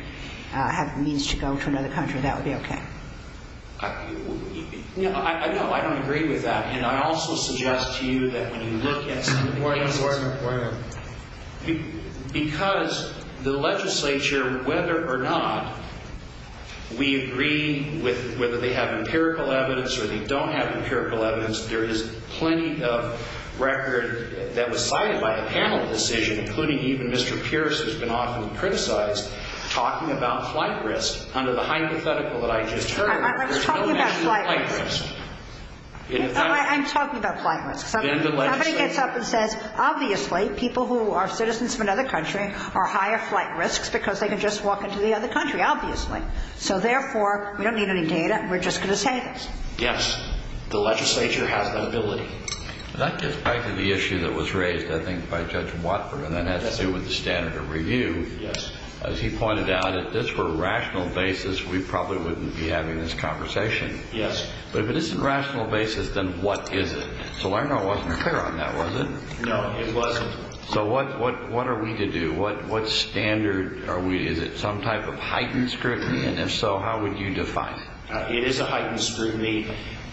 have means to go to another country, that would be okay? No, I don't agree with that. And I also suggest to you that when you look at some of the cases, because the legislature, whether or not we agree with whether they have empirical evidence or they don't have empirical evidence, there is plenty of record that was cited by a panel decision, including even Mr. Pierce, who's been often criticized, talking about flight risk under the hypothetical that I just heard. I'm talking about flight risk. I'm talking about flight risk. Somebody gets up and says, obviously people who are citizens of another country are higher flight risks because they can just walk into the other country, obviously. So, therefore, we don't need any data. We're just going to say this. Yes. The legislature has that ability. That gets back to the issue that was raised, I think, by Judge Watford, and that has to do with the standard of review. Yes. As he pointed out, if this were a rational basis, we probably wouldn't be having this conversation. Yes. But if it isn't a rational basis, then what is it? Salerno wasn't clear on that, was it? No, it wasn't. So what are we to do? What standard are we? Is it some type of heightened scrutiny? And if so, how would you define it? It is a heightened scrutiny.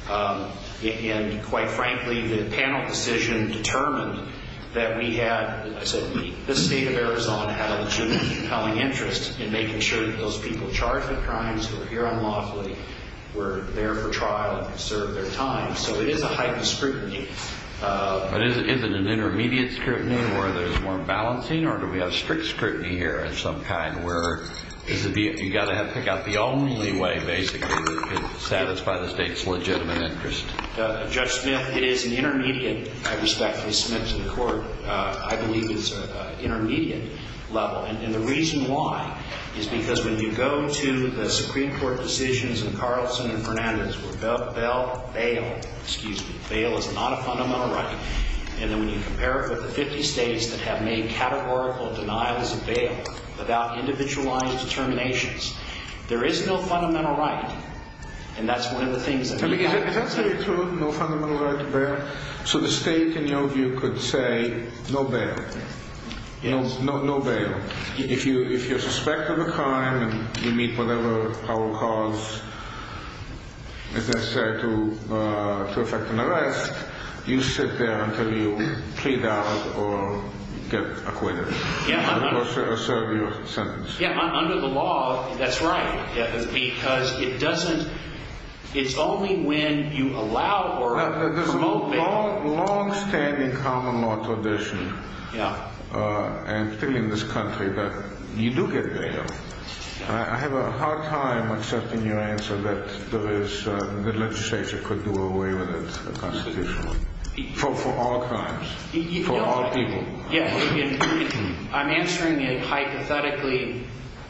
And, quite frankly, the panel decision determined that we had the State of Arizona had a legitimate compelling interest in making sure that those people charged with crimes who appear unlawfully were there for trial and served their time. So it is a heightened scrutiny. But is it an intermediate scrutiny where there's more balancing, or do we have strict scrutiny here of some kind where you've got to pick out the only way, basically, to satisfy the State's legitimate interest? Judge Smith, it is an intermediate. I respectfully submit to the Court. I believe it's an intermediate level. And the reason why is because when you go to the Supreme Court decisions in Carlson and Fernandez where bail is not a fundamental right, and then when you compare it with the 50 states that have made categorical denials of bail about individualized determinations, there is no fundamental right. And that's one of the things that we have to say. Is that really true, no fundamental right to bail? So the State, in your view, could say, no bail. No bail. If you're suspected of a crime and you meet whatever power of cause is necessary to effect an arrest, you sit there until you plead out or get acquitted. Or serve your sentence. Yeah, under the law, that's right. Because it's only when you allow or promote bail. There's a longstanding common law tradition, and particularly in this country, that you do get bail. I have a hard time accepting your answer that the legislature could do away with it constitutionally. For all crimes. For all people. I'm answering it hypothetically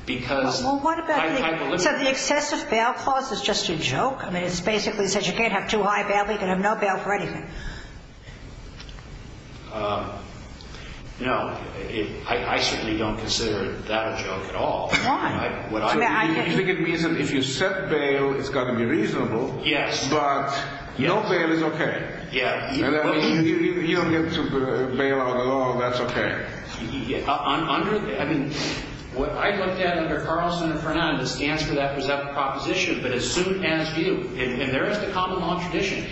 because I'm hypothetical. So the excessive bail clause is just a joke? I mean, it basically says you can't have too high a bail, you can have no bail for anything. No, I certainly don't consider that a joke at all. Why? You think it means that if you set bail, it's got to be reasonable. Yes. But no bail is okay. You don't get to bail out a law, that's okay. Under the, I mean, what I looked at under Carlson and Fernandez stands for that presumptive proposition, but as soon as you, and there is the common law tradition,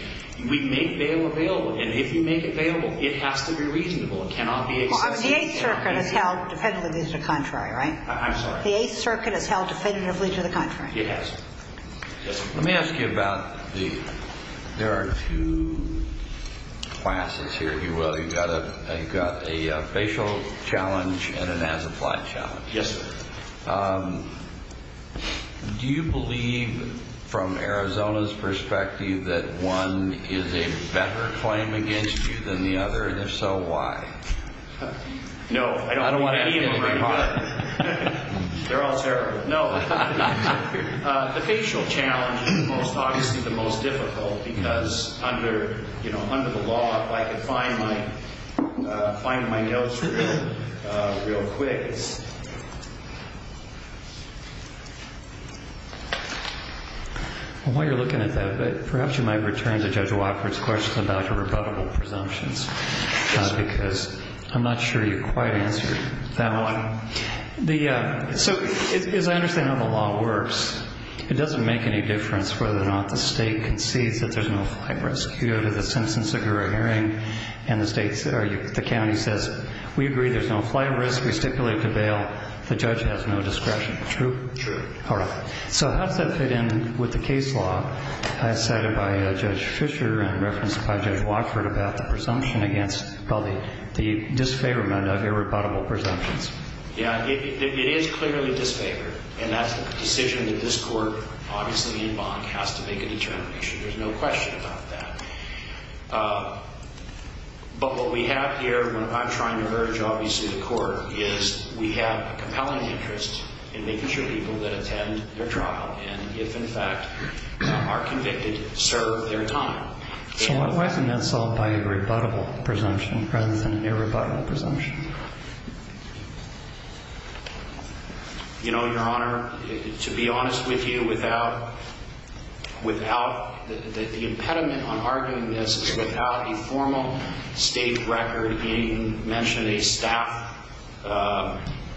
we make bail available. And if you make it bailable, it has to be reasonable. It cannot be excessive. The Eighth Circuit has held definitively to the contrary, right? I'm sorry? The Eighth Circuit has held definitively to the contrary. It has. Let me ask you about the, there are two classes here, if you will. You've got a facial challenge and an as-applied challenge. Yes, sir. Do you believe, from Arizona's perspective, that one is a better claim against you than the other? And if so, why? No, I don't believe that either. I don't want to ask you a hard question. They're all terrible. No. The facial challenge is obviously the most difficult because under the law, if I could find my notes real quick. While you're looking at that, perhaps you might return to Judge Wofford's question about your rebuttable presumptions because I'm not sure you quite answered that one. So as I understand how the law works, it doesn't make any difference whether or not the State concedes that there's no flight risk. You go to the sentence of your hearing and the State, or the County says, we agree there's no flight risk. We stipulate to bail. The judge has no discretion. True? True. All right. So how does that fit in with the case law cited by Judge Fisher and referenced by Judge Wofford about the presumption against the disfavorment of irrebuttable presumptions? Yeah. It is clearly disfavored, and that's the decision that this Court, obviously in bond, has to make a determination. There's no question about that. But what we have here, what I'm trying to urge, obviously, the Court, is we have a compelling interest in making sure people that attend their trial and, if in fact are convicted, serve their time. So why isn't that solved by a rebuttable presumption rather than an irrebuttable presumption? You know, Your Honor, to be honest with you, without the impediment on arguing this, without a formal State record, and you mentioned a staff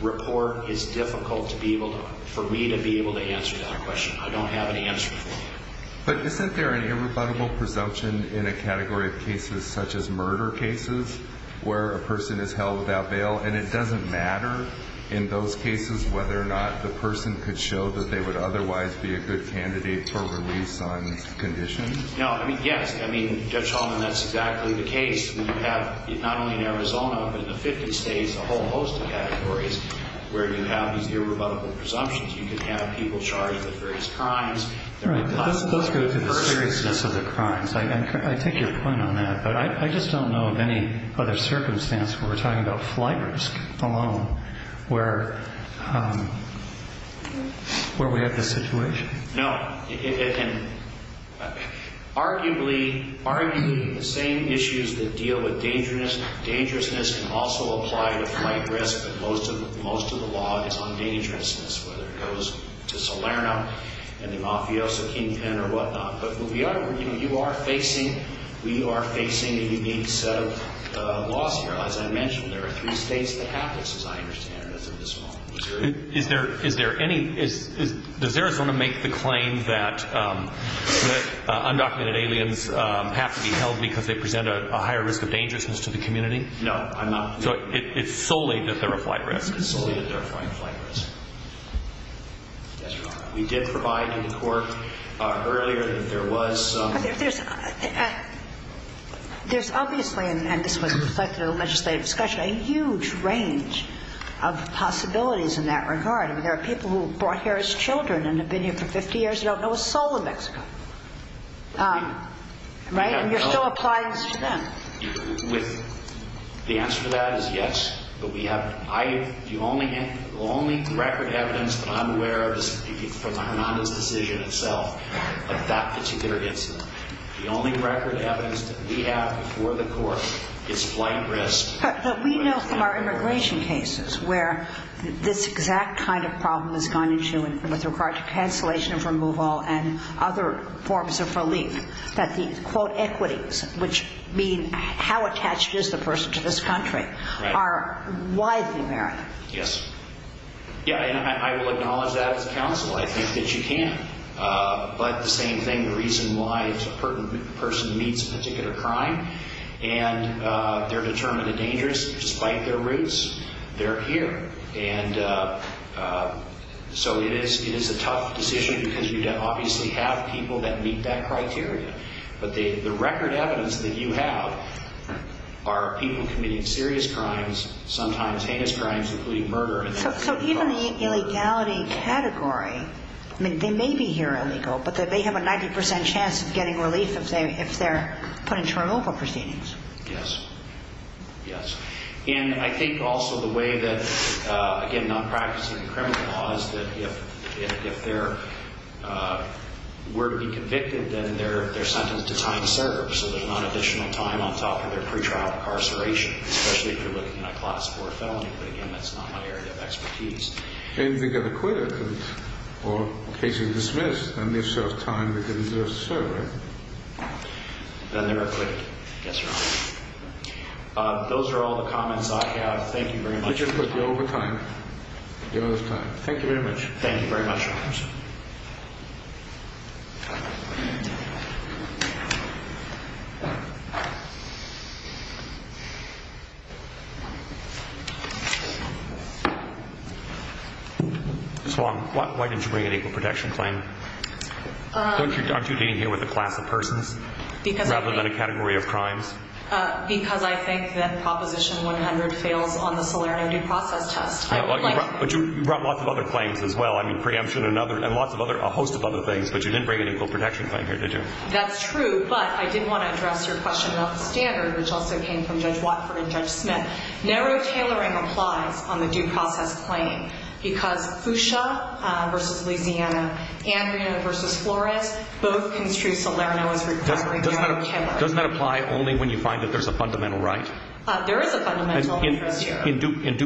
report, it's difficult for me to be able to answer that question. I don't have an answer for you. But isn't there an irrebuttable presumption in a category of cases such as murder cases where a person is held without bail, and it doesn't matter in those cases whether or not the person could show that they would otherwise be a good candidate for release on conditions? No. I mean, yes. I mean, Judge Holman, that's exactly the case. We have not only in Arizona, but in the 50 States, a whole host of categories where you have these irrebuttable presumptions. You could have people charged with various crimes. Right. Those go to the seriousness of the crimes. I take your point on that. But I just don't know of any other circumstance where we're talking about flight risk alone where we have this situation. No. And arguably, arguing the same issues that deal with dangerousness can also apply to flight risk, that most of the law is on dangerousness, whether it goes to Salerno and the Mafioso Kingpin or whatnot. But you are facing a unique set of laws here. As I mentioned, there are three states that have this, as I understand it, as of this moment. Does Arizona make the claim that undocumented aliens have to be held because they present a higher risk of dangerousness to the community? No, I'm not. So it's solely that they're a flight risk? It's solely that they're a flight risk. Yes, Your Honor. We did provide to the Court earlier that there was some. There's obviously, and this was reflected in the legislative discussion, a huge range of possibilities in that regard. I mean, there are people who were brought here as children and have been here for 50 years who don't know a soul of Mexico. Right? And you're still applying this to them. The answer to that is yes, but the only record evidence that I'm aware of is from Armando's decision itself of that particular incident. The only record evidence that we have before the Court is flight risk. But we know from our immigration cases where this exact kind of problem has gone into, and with regard to cancellation of removal and other forms of relief, that the, quote, equities, which mean how attached is the person to this country, are widely varied. Yes. Yeah, and I will acknowledge that as counsel. I think that you can. But the same thing, the reason why a person meets a particular crime and they're determined and dangerous despite their roots, they're here. And so it is a tough decision because you obviously have people that meet that criteria. But the record evidence that you have are people committing serious crimes, sometimes heinous crimes, including murder. So even the illegality category, I mean, they may be here illegal, but they have a 90 percent chance of getting relief if they're put into removal proceedings. Yes. Yes. And I think also the way that, again, not practicing the criminal law is that if they were to be convicted, then they're sentenced to time served. So there's not additional time on top of their pretrial incarceration, especially if you're looking at a Class IV felony. But, again, that's not my area of expertise. And if they get acquitted or case is dismissed, then they still have time to do a survey. Then they're acquitted. Yes, sir. Those are all the comments I have. Thank you very much. Let's just put the overtime. The overtime. Thank you very much. Thank you very much. Ms. Wong, why didn't you bring an equal protection claim? Aren't you being here with a class of persons rather than a category of crimes? Because I think that Proposition 100 fails on the Salerno due process test. But you brought lots of other claims as well. I mean, preemption and a host of other things. But you didn't bring an equal protection claim here, did you? That's true. But I did want to address your question about the standard, which also came from Judge Watford and Judge Smith. Narrow tailoring applies on the due process claim. Because Fuchsia versus Louisiana, Andreano versus Flores, both construe Salerno as requiring narrow tailoring. Doesn't that apply only when you find that there's a fundamental right? There is a fundamental. In a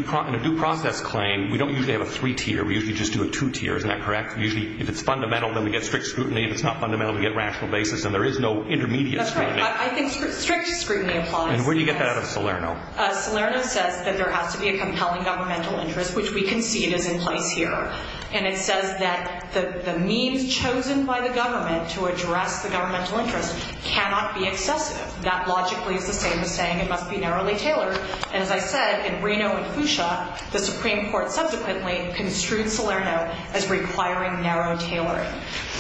due process claim, we don't usually have a three-tier. We usually just do a two-tier. Isn't that correct? Usually, if it's fundamental, then we get strict scrutiny. If it's not fundamental, we get rational basis. And there is no intermediate scrutiny. That's right. I think strict scrutiny applies. And where do you get that out of Salerno? Salerno says that there has to be a compelling governmental interest, which we can see is in place here. And it says that the means chosen by the government to address the governmental interest cannot be excessive. That logically is the same as saying it must be narrowly tailored. And as I said, in Andreano and Fuchsia, the Supreme Court subsequently construed Salerno as requiring narrow tailoring.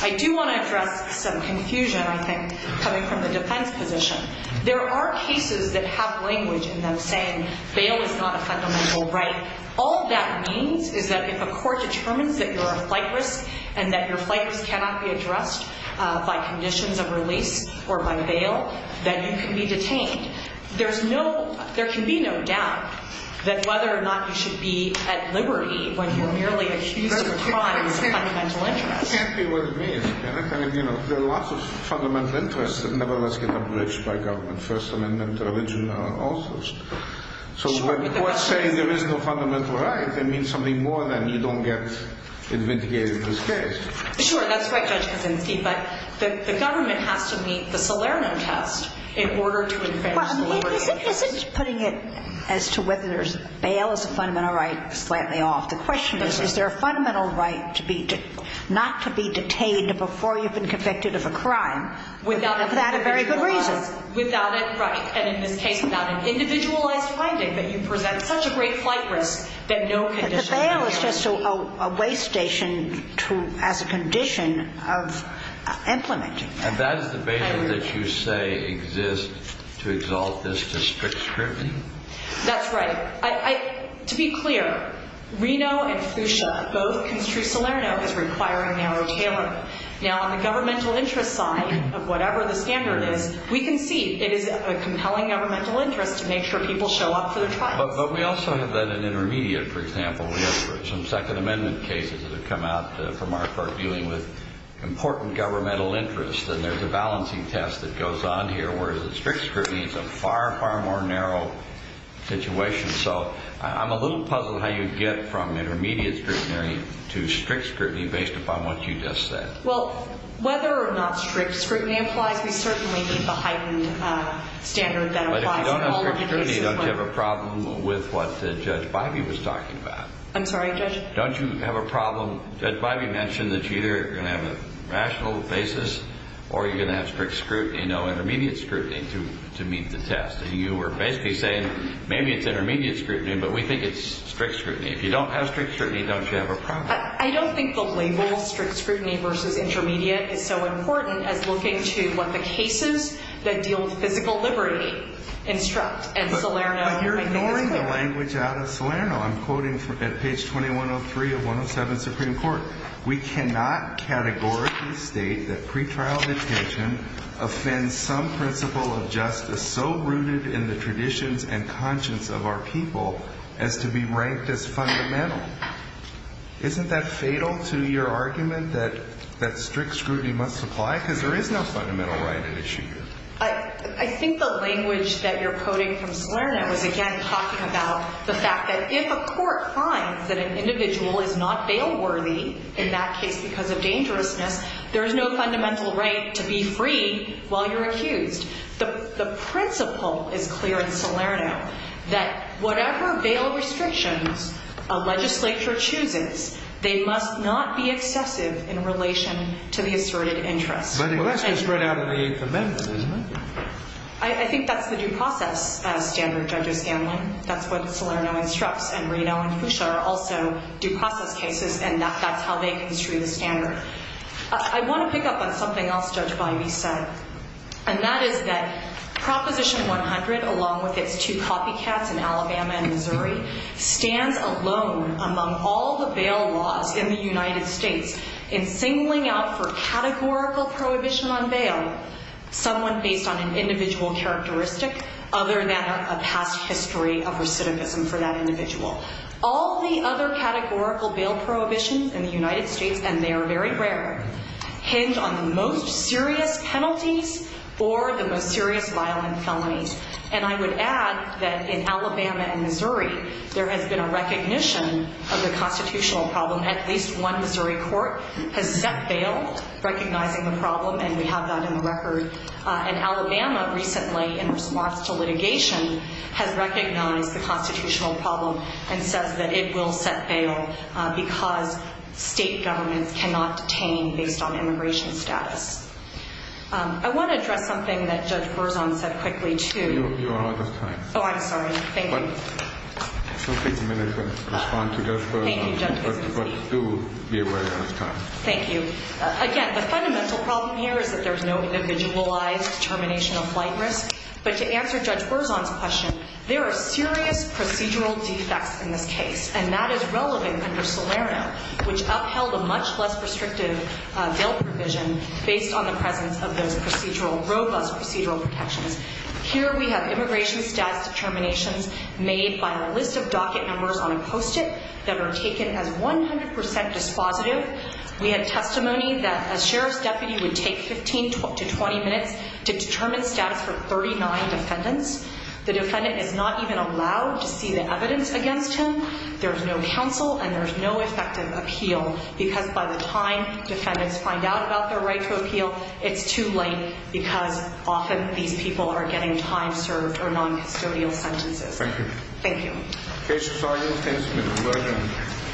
I do want to address some confusion, I think, coming from the defense position. There are cases that have language in them saying bail is not a fundamental right. All that means is that if a court determines that you're a flight risk and that your flight risk cannot be addressed by conditions of release or by bail, then you can be detained. There can be no doubt that whether or not you should be at liberty when you're merely accusing crimes of fundamental interest. It can't be what it means. There are lots of fundamental interests that nevertheless get abridged by government, First Amendment, religion, all sorts. So when courts say there is no fundamental right, they mean something more than you don't get investigated in this case. Sure. That's right, Judge Kuczynski. But the government has to meet the Salerno test in order to advance liberty. Isn't putting it as to whether bail is a fundamental right slightly off? The question is, is there a fundamental right not to be detained before you've been convicted of a crime without a very good reason? Without it, right. And in this case, without an individualized finding that you present such a great flight risk that no condition of release. But the bail is just a way station as a condition of implementing that. And that is the bail that you say exists to exalt this to strict scrutiny? That's right. To be clear, Reno and Fuchsia, both construe Salerno as requiring narrow tailoring. Now, on the governmental interest side of whatever the standard is, we can see it is a compelling governmental interest to make sure people show up for their trials. But we also have that in intermediate, for example. We have some Second Amendment cases that have come out from our court dealing with important governmental interest. And there's a balancing test that goes on here, whereas strict scrutiny is a far, far more narrow situation. So I'm a little puzzled how you get from intermediate scrutiny to strict scrutiny based upon what you just said. Well, whether or not strict scrutiny applies, we certainly need the heightened standard that applies. But if you don't have strict scrutiny, don't you have a problem with what Judge Bybee was talking about? I'm sorry, Judge? Don't you have a problem? Judge Bybee mentioned that you're either going to have a rational basis or you're going to have strict scrutiny, no intermediate scrutiny, to meet the test. And you were basically saying maybe it's intermediate scrutiny, but we think it's strict scrutiny. If you don't have strict scrutiny, don't you have a problem? I don't think the label strict scrutiny versus intermediate is so important as looking to what the cases that deal with physical liberty instruct. And Salerno, I think, is clear. I'm quoting at page 2103 of 107 of the Supreme Court. We cannot categorically state that pretrial detention offends some principle of justice so rooted in the traditions and conscience of our people as to be ranked as fundamental. Isn't that fatal to your argument that strict scrutiny must apply? Because there is no fundamental right at issue here. I think the language that you're quoting from Salerno is, again, talking about the fact that if a court finds that an individual is not bail worthy, in that case because of dangerousness, there is no fundamental right to be free while you're accused. The principle is clear in Salerno that whatever bail restrictions a legislature chooses, they must not be excessive in relation to the asserted interest. Well, that's been spread out in the Eighth Amendment, isn't it? I think that's the due process standard, Judge O'Scanlan. That's what Salerno instructs. And Reno and Fuchsia are also due process cases, and that's how they construe the standard. I want to pick up on something else Judge Bivey said, and that is that Proposition 100, along with its two copycats in Alabama and Missouri, stands alone among all the bail laws in the United States in singling out for categorical prohibition on bail someone based on an individual characteristic other than a past history of recidivism for that individual. All the other categorical bail prohibitions in the United States, and they are very rare, hinge on the most serious penalties or the most serious violent felonies. And I would add that in Alabama and Missouri there has been a recognition of the constitutional problem. At least one Missouri court has set bail recognizing the problem, and we have that in the record. And Alabama recently, in response to litigation, has recognized the constitutional problem and says that it will set bail because state governments cannot detain based on immigration status. I want to address something that Judge Berzon said quickly, too. You are out of time. Oh, I'm sorry. Thank you. Don't take a minute to respond to Judge Berzon, but do be aware of time. Thank you. Again, the fundamental problem here is that there is no individualized determination of flight risk. But to answer Judge Berzon's question, there are serious procedural defects in this case, and that is relevant under Salerno, which upheld a much less restrictive bail provision based on the presence of those procedural, robust procedural protections. Here we have immigration status determinations made by a list of docket numbers on a Post-it that are taken as 100 percent dispositive. We have testimony that a sheriff's deputy would take 15 to 20 minutes to determine status for 39 defendants. The defendant is not even allowed to see the evidence against him. There's no counsel, and there's no effective appeal because by the time defendants find out about their right to appeal, it's too late because often these people are getting time served or noncustodial sentences. Thank you. Thank you.